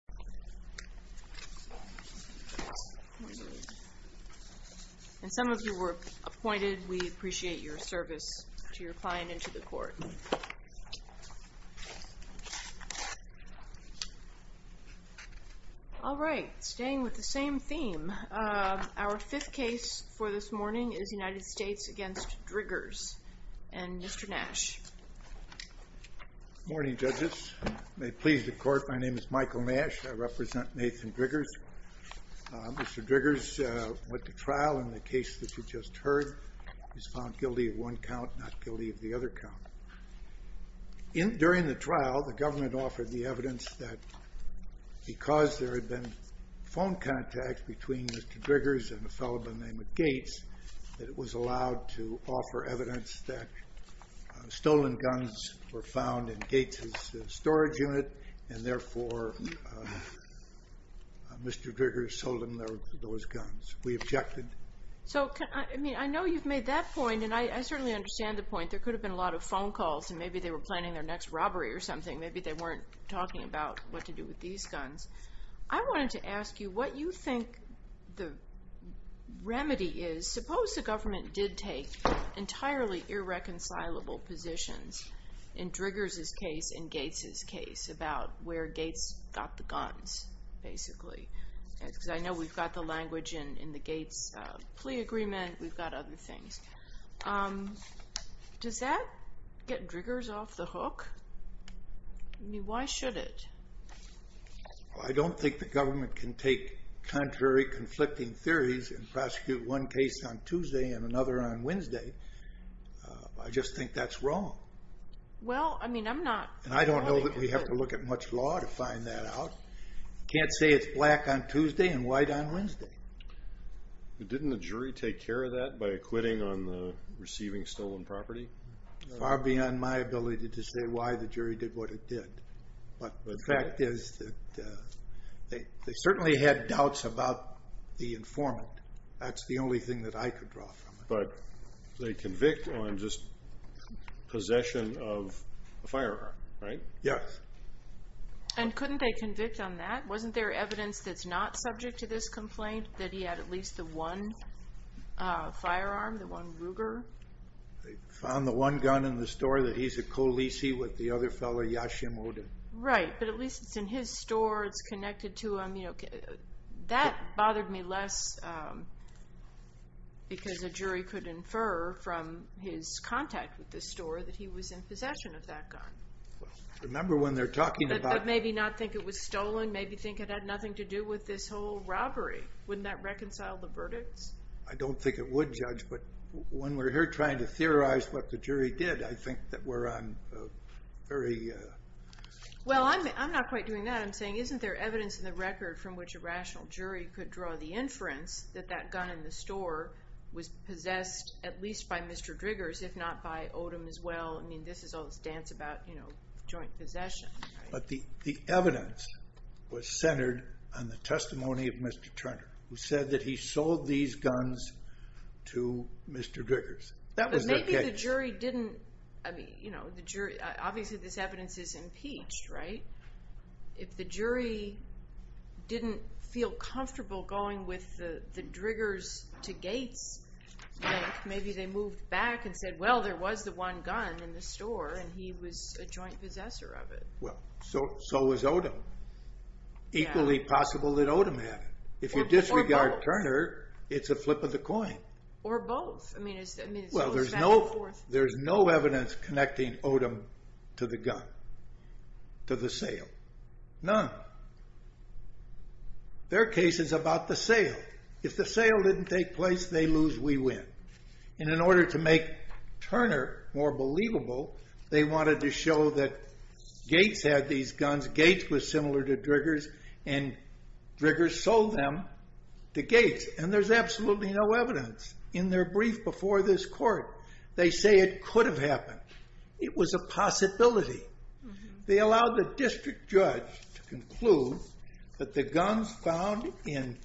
Good morning judges, may it please the court, my name is Michael Nash, and I'm here on behalf Mr. Driggers went to trial in the case that you just heard. He was found guilty of one count, not guilty of the other count. During the trial, the government offered the evidence that because there had been phone contacts between Mr. Driggers and a fellow by the name of Gates, that it was allowed to offer evidence that stolen guns were found in Gates' storage unit, and therefore Mr. Driggers sold him those guns. We objected. So I know you've made that point, and I certainly understand the point. There could have been a lot of phone calls, and maybe they were planning their next robbery or something. Maybe they weren't talking about what to do with these guns. I wanted to ask you what you think the remedy is. Suppose the government did take entirely irreconcilable positions in Driggers' case and Gates' case about where Gates got the guns, basically. Because I know we've got the language in the Gates plea agreement, we've got other things. Does that get Driggers off the hook? Why should it? I don't think the government can take contrary conflicting theories and prosecute one case on Tuesday and another on Wednesday. I just think that's wrong. I don't know that we have to look at much law to find that out. You can't say it's black on Tuesday and white on Wednesday. Didn't the jury take care of that by acquitting on the receiving stolen property? Far beyond my ability to say why the jury did what it did. But the fact is that they certainly had doubts about the informant. That's the only thing that I could draw from it. But they convict on just possession of a firearm, right? Yes. And couldn't they convict on that? Wasn't there evidence that's not subject to this complaint that he had at least the one firearm, the one Ruger? They found the one gun in the store that he's a co-leasee with the other fellow, Yashim Odin. Right. But at least it's in his store. It's connected to him. That bothered me less because a jury could infer from his contact with the store that he was in possession of that gun. Remember when they're talking about... But maybe not think it was stolen. Maybe think it had nothing to do with this whole robbery. Wouldn't that reconcile the verdicts? I don't think it would, Judge. But when we're here trying to theorize what the jury did, I think that we're on a very... Well, I'm not quite doing that. I'm saying isn't there evidence in the record from which a rational jury could draw the inference that that gun in the store was possessed at least by Mr. Driggers, if not by Odin as well? I mean, this is all this dance about joint possession. But the evidence was centered on the testimony of Mr. Turner, who said that he sold these guns to Mr. Driggers. But maybe the jury didn't... Obviously, this evidence is impeached, right? If the jury didn't feel comfortable going with the Driggers to Gates bank, maybe they moved back and said, well, there was the one gun in the store and he was a joint possessor of it. Well, so was Odin. Equally possible that Odin had it. If you disregard Turner, it's a flip of the coin. Or both. I mean, it's back and forth. Well, there's no evidence connecting Odin to the gun, to the sale. None. Their case is about the sale. If the sale didn't take place, they lose, we win. And in order to make Turner more believable, they wanted to show that Gates had these guns. Gates was similar to Driggers, and Driggers sold them to Gates. And there's absolutely no evidence in their brief before this court. They say it could have happened. It was a possibility. They allowed the district judge to conclude that the guns found in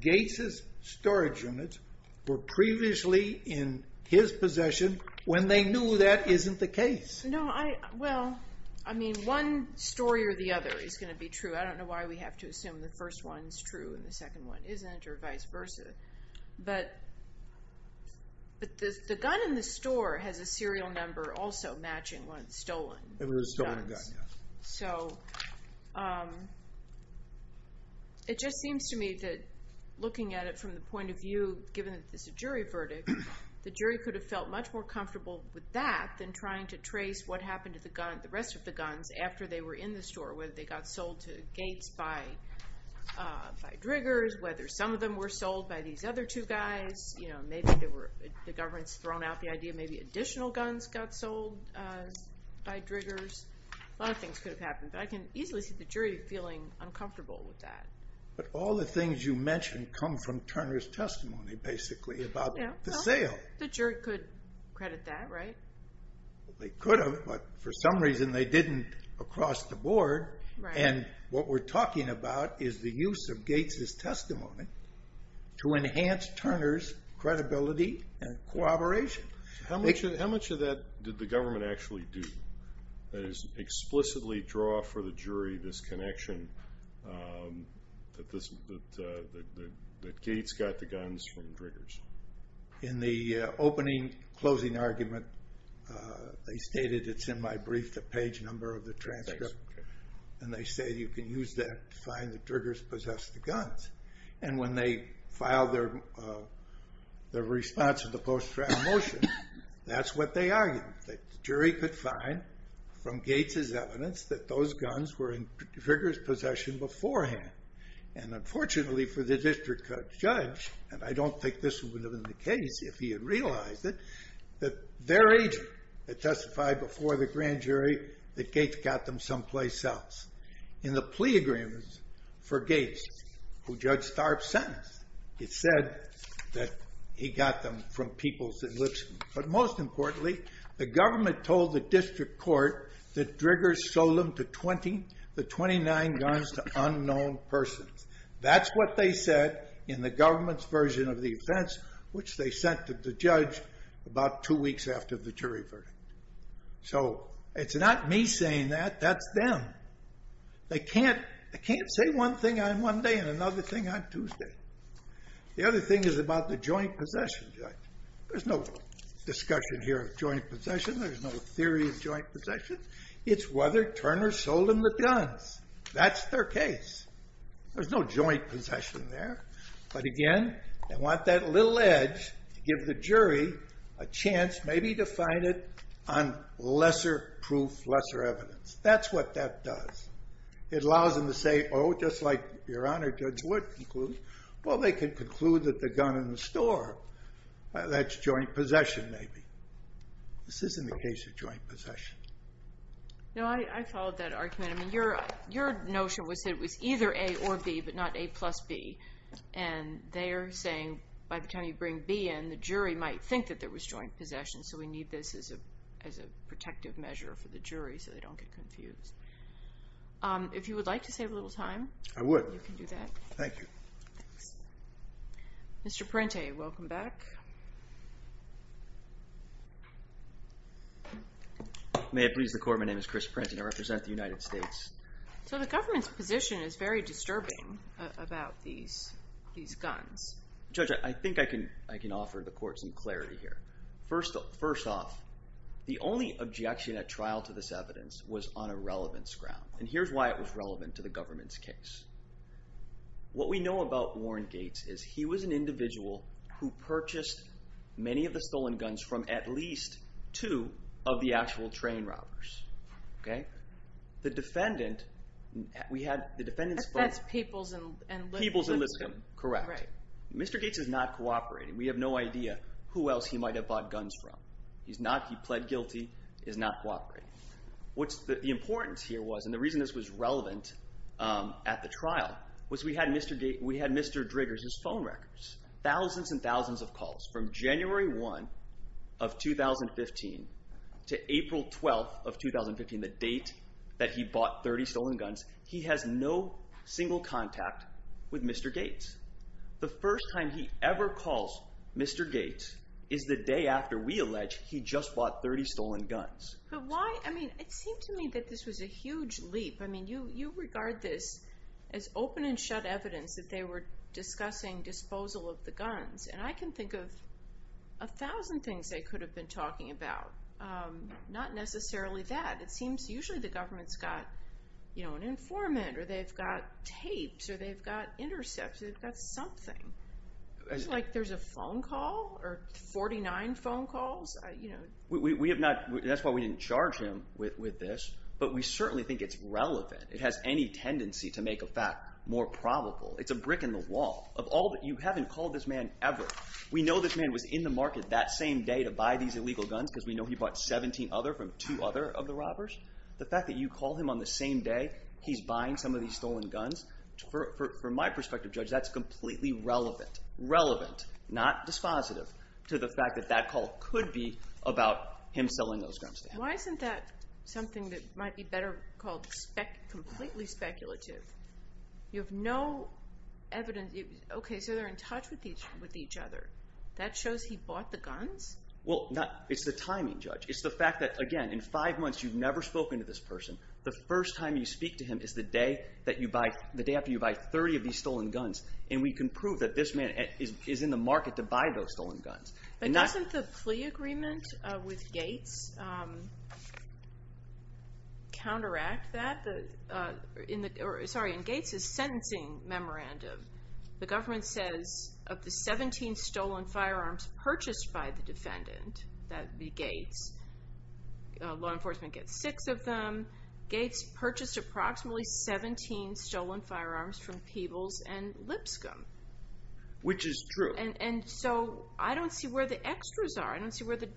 Gates' storage units were previously in his possession when they knew that isn't the case. No, I... Well, I mean, one story or the other is going to be true. I don't know why we have to assume the first one's true and the second one isn't or vice versa. But the gun in the store has a serial number also matching when it's stolen. It was a stolen gun, yes. So it just seems to me that looking at it from the point of view, given that this is a jury verdict, the jury could have felt much more comfortable with that than trying to trace what happened to the rest of the guns after they were in the store. Whether they got sold to Gates by Driggers, whether some of them were sold by these other two guys. Maybe the government's thrown out the idea maybe additional guns got sold by Driggers. A lot of things could have happened, but I can easily see the jury feeling uncomfortable with that. But all the things you mentioned come from Turner's testimony, basically, about the sale. The jury could credit that, right? They could have, but for some reason they didn't across the board. And what we're talking about is the use of Gates' testimony to enhance Turner's credibility and cooperation. How much of that did the government actually do? That is, explicitly draw for the jury this connection that Gates got the guns from Driggers? In the opening-closing argument, they stated it's in my brief, the page number of the transcript. And they say you can use that to find that Driggers possessed the guns. And when they filed their response to the post-trial motion, that's what they argued. The jury could find from Gates' evidence that those guns were in Driggers' possession beforehand. And unfortunately for the district judge, and I don't think this would have been the case if he had realized it, that their agent had testified before the grand jury that Gates got them someplace else. In the plea agreement for Gates, who Judge Starb sentenced, it said that he got them from people's enlistment. But most importantly, the government told the district court that Driggers sold them to 20 of the 29 guns to unknown persons. That's what they said in the government's version of the offense, which they sent to the judge about two weeks after the jury verdict. So it's not me saying that, that's them. They can't say one thing on Monday and another thing on Tuesday. The other thing is about the joint possession. There's no discussion here of joint possession. There's no theory of joint possession. It's whether Turner sold them the guns. That's their case. There's no joint possession there. But again, they want that little edge to give the jury a chance maybe to find it on lesser proof, lesser evidence. That's what that does. It allows them to say, oh, just like Your Honor, Judge Wood concluded, well, they can conclude that the gun in the store, that's joint possession maybe. This isn't the case of joint possession. No, I followed that argument. I mean, your notion was that it was either A or B, but not A plus B. And they're saying by the time you bring B in, the jury might think that there was joint possession. So we need this as a protective measure for the jury so they don't get confused. If you would like to save a little time. I would. You can do that. Thank you. Thanks. Mr. Parente, welcome back. May it please the Court, my name is Chris Parente and I represent the United States. So the government's position is very disturbing about these guns. Judge, I think I can offer the Court some clarity here. First off, the only objection at trial to this evidence was on a relevance ground. And here's why it was relevant to the government's case. What we know about Warren Gates is he was an individual who purchased many of the stolen guns from at least two of the actual train robbers. Okay? The defendant, we had the defendant's... That's Peoples and Lipscomb. Peoples and Lipscomb. Correct. Mr. Gates is not cooperating. We have no idea who else he might have bought guns from. He's not. He pled guilty. He's not cooperating. What's the importance here was, and the reason this was relevant at the trial, was we had Mr. Driggers' phone records. Thousands and thousands of calls from January 1 of 2015 to April 12 of 2015, the date that he bought 30 stolen guns. He has no single contact with Mr. Gates. The first time he ever calls Mr. Gates is the day after we allege he just bought 30 stolen guns. But why? I mean, it seemed to me that this was a huge leap. I mean, you regard this as open and shut evidence that they were discussing disposal of the guns. And I can think of a thousand things they could have been talking about. Not necessarily that. It seems usually the government's got an informant, or they've got tapes, or they've got intercepts. They've got something. It's like there's a phone call or 49 phone calls. That's why we didn't charge him with this, but we certainly think it's relevant. It has any tendency to make a fact more probable. It's a brick in the wall. You haven't called this man ever. We know this man was in the market that same day to buy these illegal guns because we know he bought 17 other from two other of the robbers. The fact that you call him on the same day he's buying some of these stolen guns, from my perspective, Judge, that's completely relevant. Relevant, not dispositive, to the fact that that call could be about him selling those guns to him. Why isn't that something that might be better called completely speculative? You have no evidence. Okay, so they're in touch with each other. That shows he bought the guns? Well, it's the timing, Judge. It's the fact that, again, in five months you've never spoken to this person. The first time you speak to him is the day after you buy 30 of these stolen guns, and we can prove that this man is in the market to buy those stolen guns. But doesn't the plea agreement with Gates counteract that? In Gates's sentencing memorandum, the government says of the 17 stolen firearms purchased by the defendant, that would be Gates, law enforcement gets six of them. Gates purchased approximately 17 stolen firearms from Peebles and Lipscomb. Which is true. And so I don't see where the extras are. I don't see where the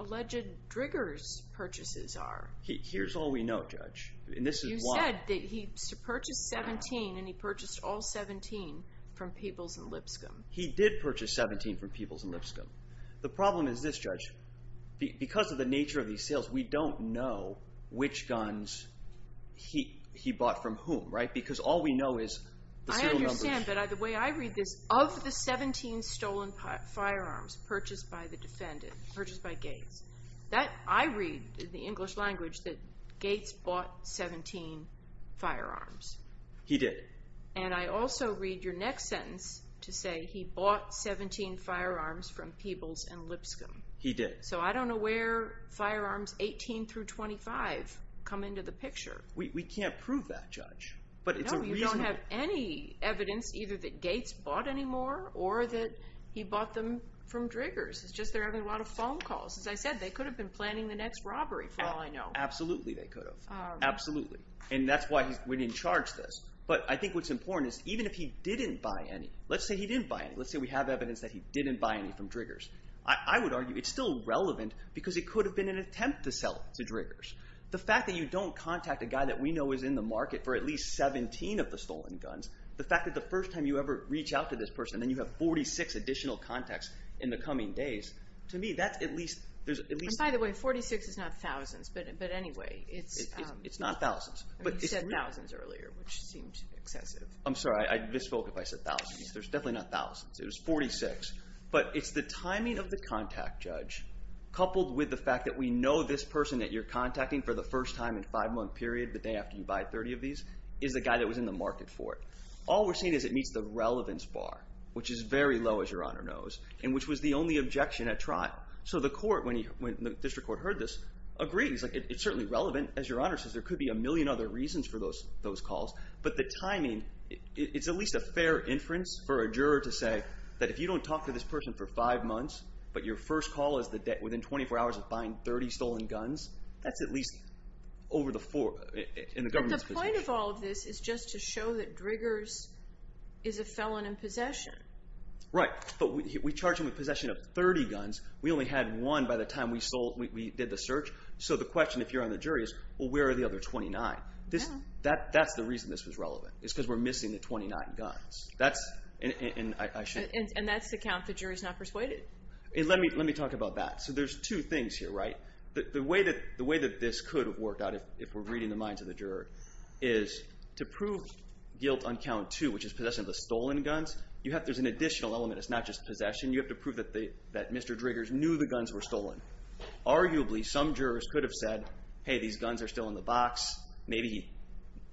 alleged triggers purchases are. Here's all we know, Judge. You said that he purchased 17 and he purchased all 17 from Peebles and Lipscomb. He did purchase 17 from Peebles and Lipscomb. The problem is this, Judge. Because of the nature of these sales, we don't know which guns he bought from whom, right? Because all we know is the serial numbers. I understand, but the way I read this, of the 17 stolen firearms purchased by the defendant, purchased by Gates, I read in the English language that Gates bought 17 firearms. He did. And I also read your next sentence to say he bought 17 firearms from Peebles and Lipscomb. He did. So I don't know where firearms 18 through 25 come into the picture. We can't prove that, Judge. No, you don't have any evidence either that Gates bought any more or that he bought them from Driggers. It's just they're having a lot of phone calls. As I said, they could have been planning the next robbery for all I know. Absolutely they could have. Absolutely. And that's why we didn't charge this. But I think what's important is even if he didn't buy any, let's say he didn't buy any. Let's say we have evidence that he didn't buy any from Driggers. I would argue it's still relevant because it could have been an attempt to sell it to Driggers. The fact that you don't contact a guy that we know is in the market for at least 17 of the stolen guns, the fact that the first time you ever reach out to this person and then you have 46 additional contacts in the coming days, to me that's at least— And by the way, 46 is not thousands. But anyway, it's— It's not thousands. You said thousands earlier, which seemed excessive. I'm sorry. I misspoke if I said thousands. There's definitely not thousands. It was 46. But it's the timing of the contact judge coupled with the fact that we know this person that you're contacting for the first time in a five-month period, the day after you buy 30 of these, is the guy that was in the market for it. All we're seeing is it meets the relevance bar, which is very low, as Your Honor knows, and which was the only objection at trial. So the court, when the district court heard this, agreed. It's certainly relevant, as Your Honor says. There could be a million other reasons for those calls. But the timing, it's at least a fair inference for a juror to say that if you don't talk to this person for five months but your first call is within 24 hours of buying 30 stolen guns, that's at least over the four—in the government's position. But the point of all of this is just to show that Driggers is a felon in possession. Right. But we charge him with possession of 30 guns. We only had one by the time we did the search. So the question, if you're on the jury, is, well, where are the other 29? That's the reason this was relevant is because we're missing the 29 guns. And that's the count the jury's not persuaded? Let me talk about that. So there's two things here, right? The way that this could have worked out, if we're reading the minds of the juror, is to prove guilt on count two, which is possession of the stolen guns, there's an additional element. It's not just possession. You have to prove that Mr. Driggers knew the guns were stolen. Arguably, some jurors could have said, hey, these guns are still in the box. Maybe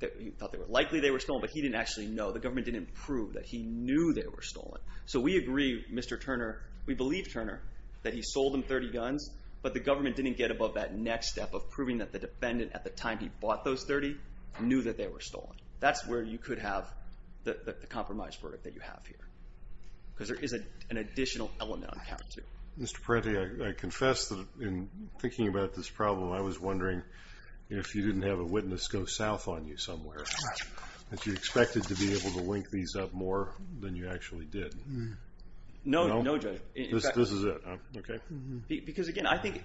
he thought they were likely they were stolen, but he didn't actually know. The government didn't prove that he knew they were stolen. So we agree, Mr. Turner, we believe, Turner, that he sold them 30 guns, but the government didn't get above that next step of proving that the defendant, at the time he bought those 30, knew that they were stolen. That's where you could have the compromise verdict that you have here because there is an additional element on count two. Mr. Parente, I confess that in thinking about this problem, I was wondering if you didn't have a witness go south on you somewhere, that you expected to be able to link these up more than you actually did. No, Judge. This is it, okay? Because, again, I think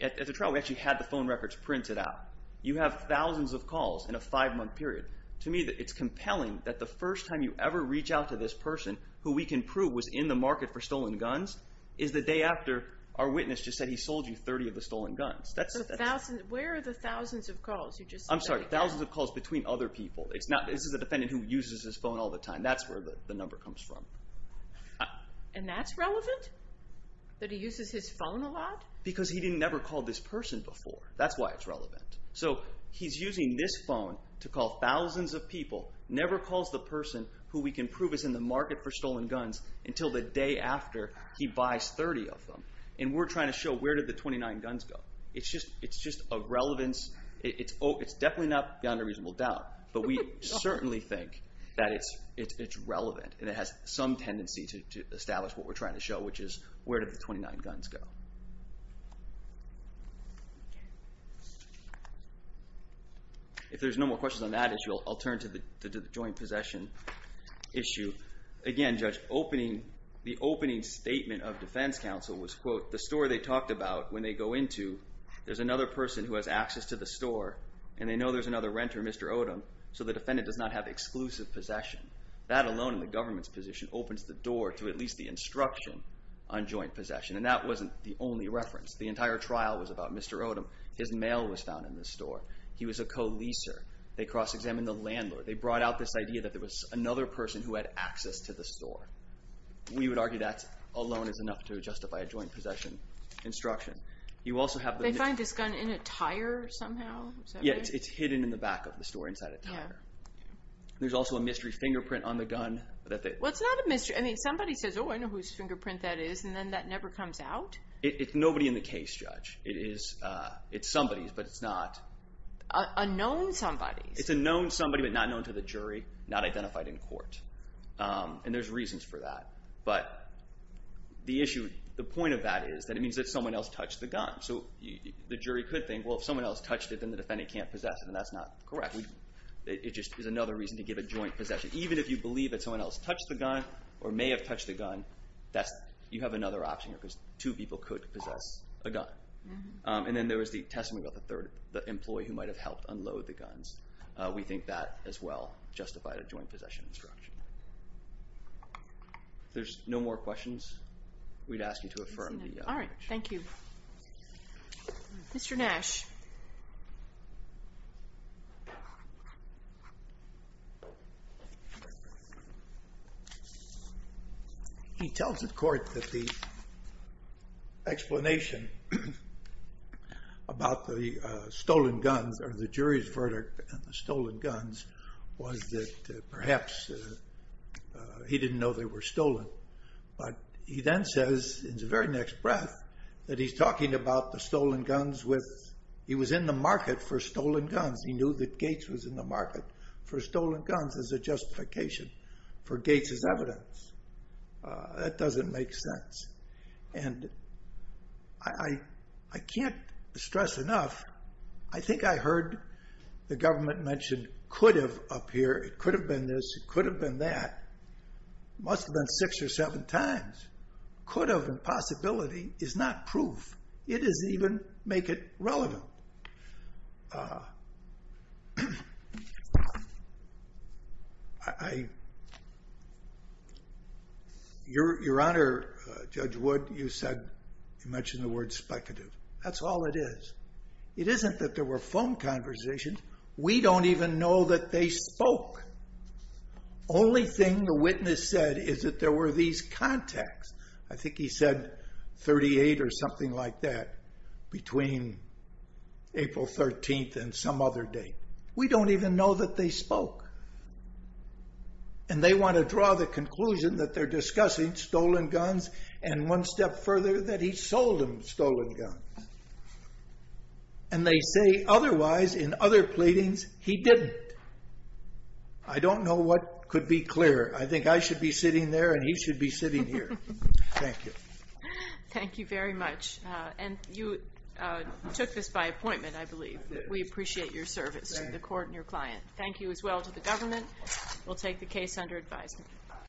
at the trial we actually had the phone records printed out. You have thousands of calls in a five-month period. To me, it's compelling that the first time you ever reach out to this person, who we can prove was in the market for stolen guns, is the day after our witness just said he sold you 30 of the stolen guns. Where are the thousands of calls? I'm sorry, thousands of calls between other people. This is a defendant who uses his phone all the time. That's where the number comes from. And that's relevant? That he uses his phone a lot? Because he never called this person before. That's why it's relevant. So he's using this phone to call thousands of people, never calls the person who we can prove is in the market for stolen guns until the day after he buys 30 of them. And we're trying to show where did the 29 guns go? It's just a relevance. It's definitely not beyond a reasonable doubt, but we certainly think that it's relevant and it has some tendency to establish what we're trying to show, which is where did the 29 guns go? Okay. If there's no more questions on that issue, I'll turn to the joint possession issue. Again, Judge, the opening statement of defense counsel was, quote, the store they talked about when they go into, there's another person who has access to the store and they know there's another renter, Mr. Odom, so the defendant does not have exclusive possession. That alone in the government's position opens the door to at least the instruction on joint possession. And that wasn't the only reference. The entire trial was about Mr. Odom. His mail was found in the store. He was a co-leaser. They cross-examined the landlord. They brought out this idea that there was another person who had access to the store. We would argue that alone is enough to justify a joint possession instruction. You also have the... They find this gun in a tire somehow? Yeah, it's hidden in the back of the store inside a tire. There's also a mystery fingerprint on the gun that they... Well, it's not a mystery. I mean, somebody says, oh, I know whose fingerprint that is, and then that never comes out? It's nobody in the case, Judge. It's somebody's, but it's not... A known somebody's. It's a known somebody, but not known to the jury, not identified in court. And there's reasons for that. But the issue, the point of that is that it means that someone else touched the gun. So the jury could think, well, if someone else touched it, then the defendant can't possess it, and that's not correct. It just is another reason to give a joint possession. Even if you believe that someone else touched the gun or may have touched the gun, you have another option here, because two people could possess a gun. And then there was the testimony about the employee who might have helped unload the guns. We think that, as well, justified a joint possession instruction. If there's no more questions, we'd ask you to affirm the... All right, thank you. Mr. Nash. He tells the court that the explanation about the stolen guns, or the jury's verdict on the stolen guns, was that perhaps he didn't know they were stolen. But he then says, in the very next breath, that he's talking about the stolen guns with... He was in the market for stolen guns. He knew that Gates was in the market for stolen guns as a justification for Gates's evidence. That doesn't make sense. And I can't stress enough, I think I heard the government mention could have up here, it could have been this, it could have been that. Must have been six or seven times. Could have and possibility is not proof. It doesn't even make it relevant. Your Honor, Judge Wood, you mentioned the word speculative. That's all it is. It isn't that there were phone conversations. We don't even know that they spoke. Only thing the witness said is that there were these contacts. I think he said 38 or something like that between April 13th and some other date. We don't even know that they spoke. And they want to draw the conclusion that they're discussing stolen guns and one step further, that he sold them stolen guns. And they say otherwise, in other pleadings, he didn't. I don't know what could be clearer. I think I should be sitting there and he should be sitting here. Thank you. Thank you very much. And you took this by appointment, I believe. We appreciate your service to the court and your client. Thank you as well to the government. We'll take the case under advisement.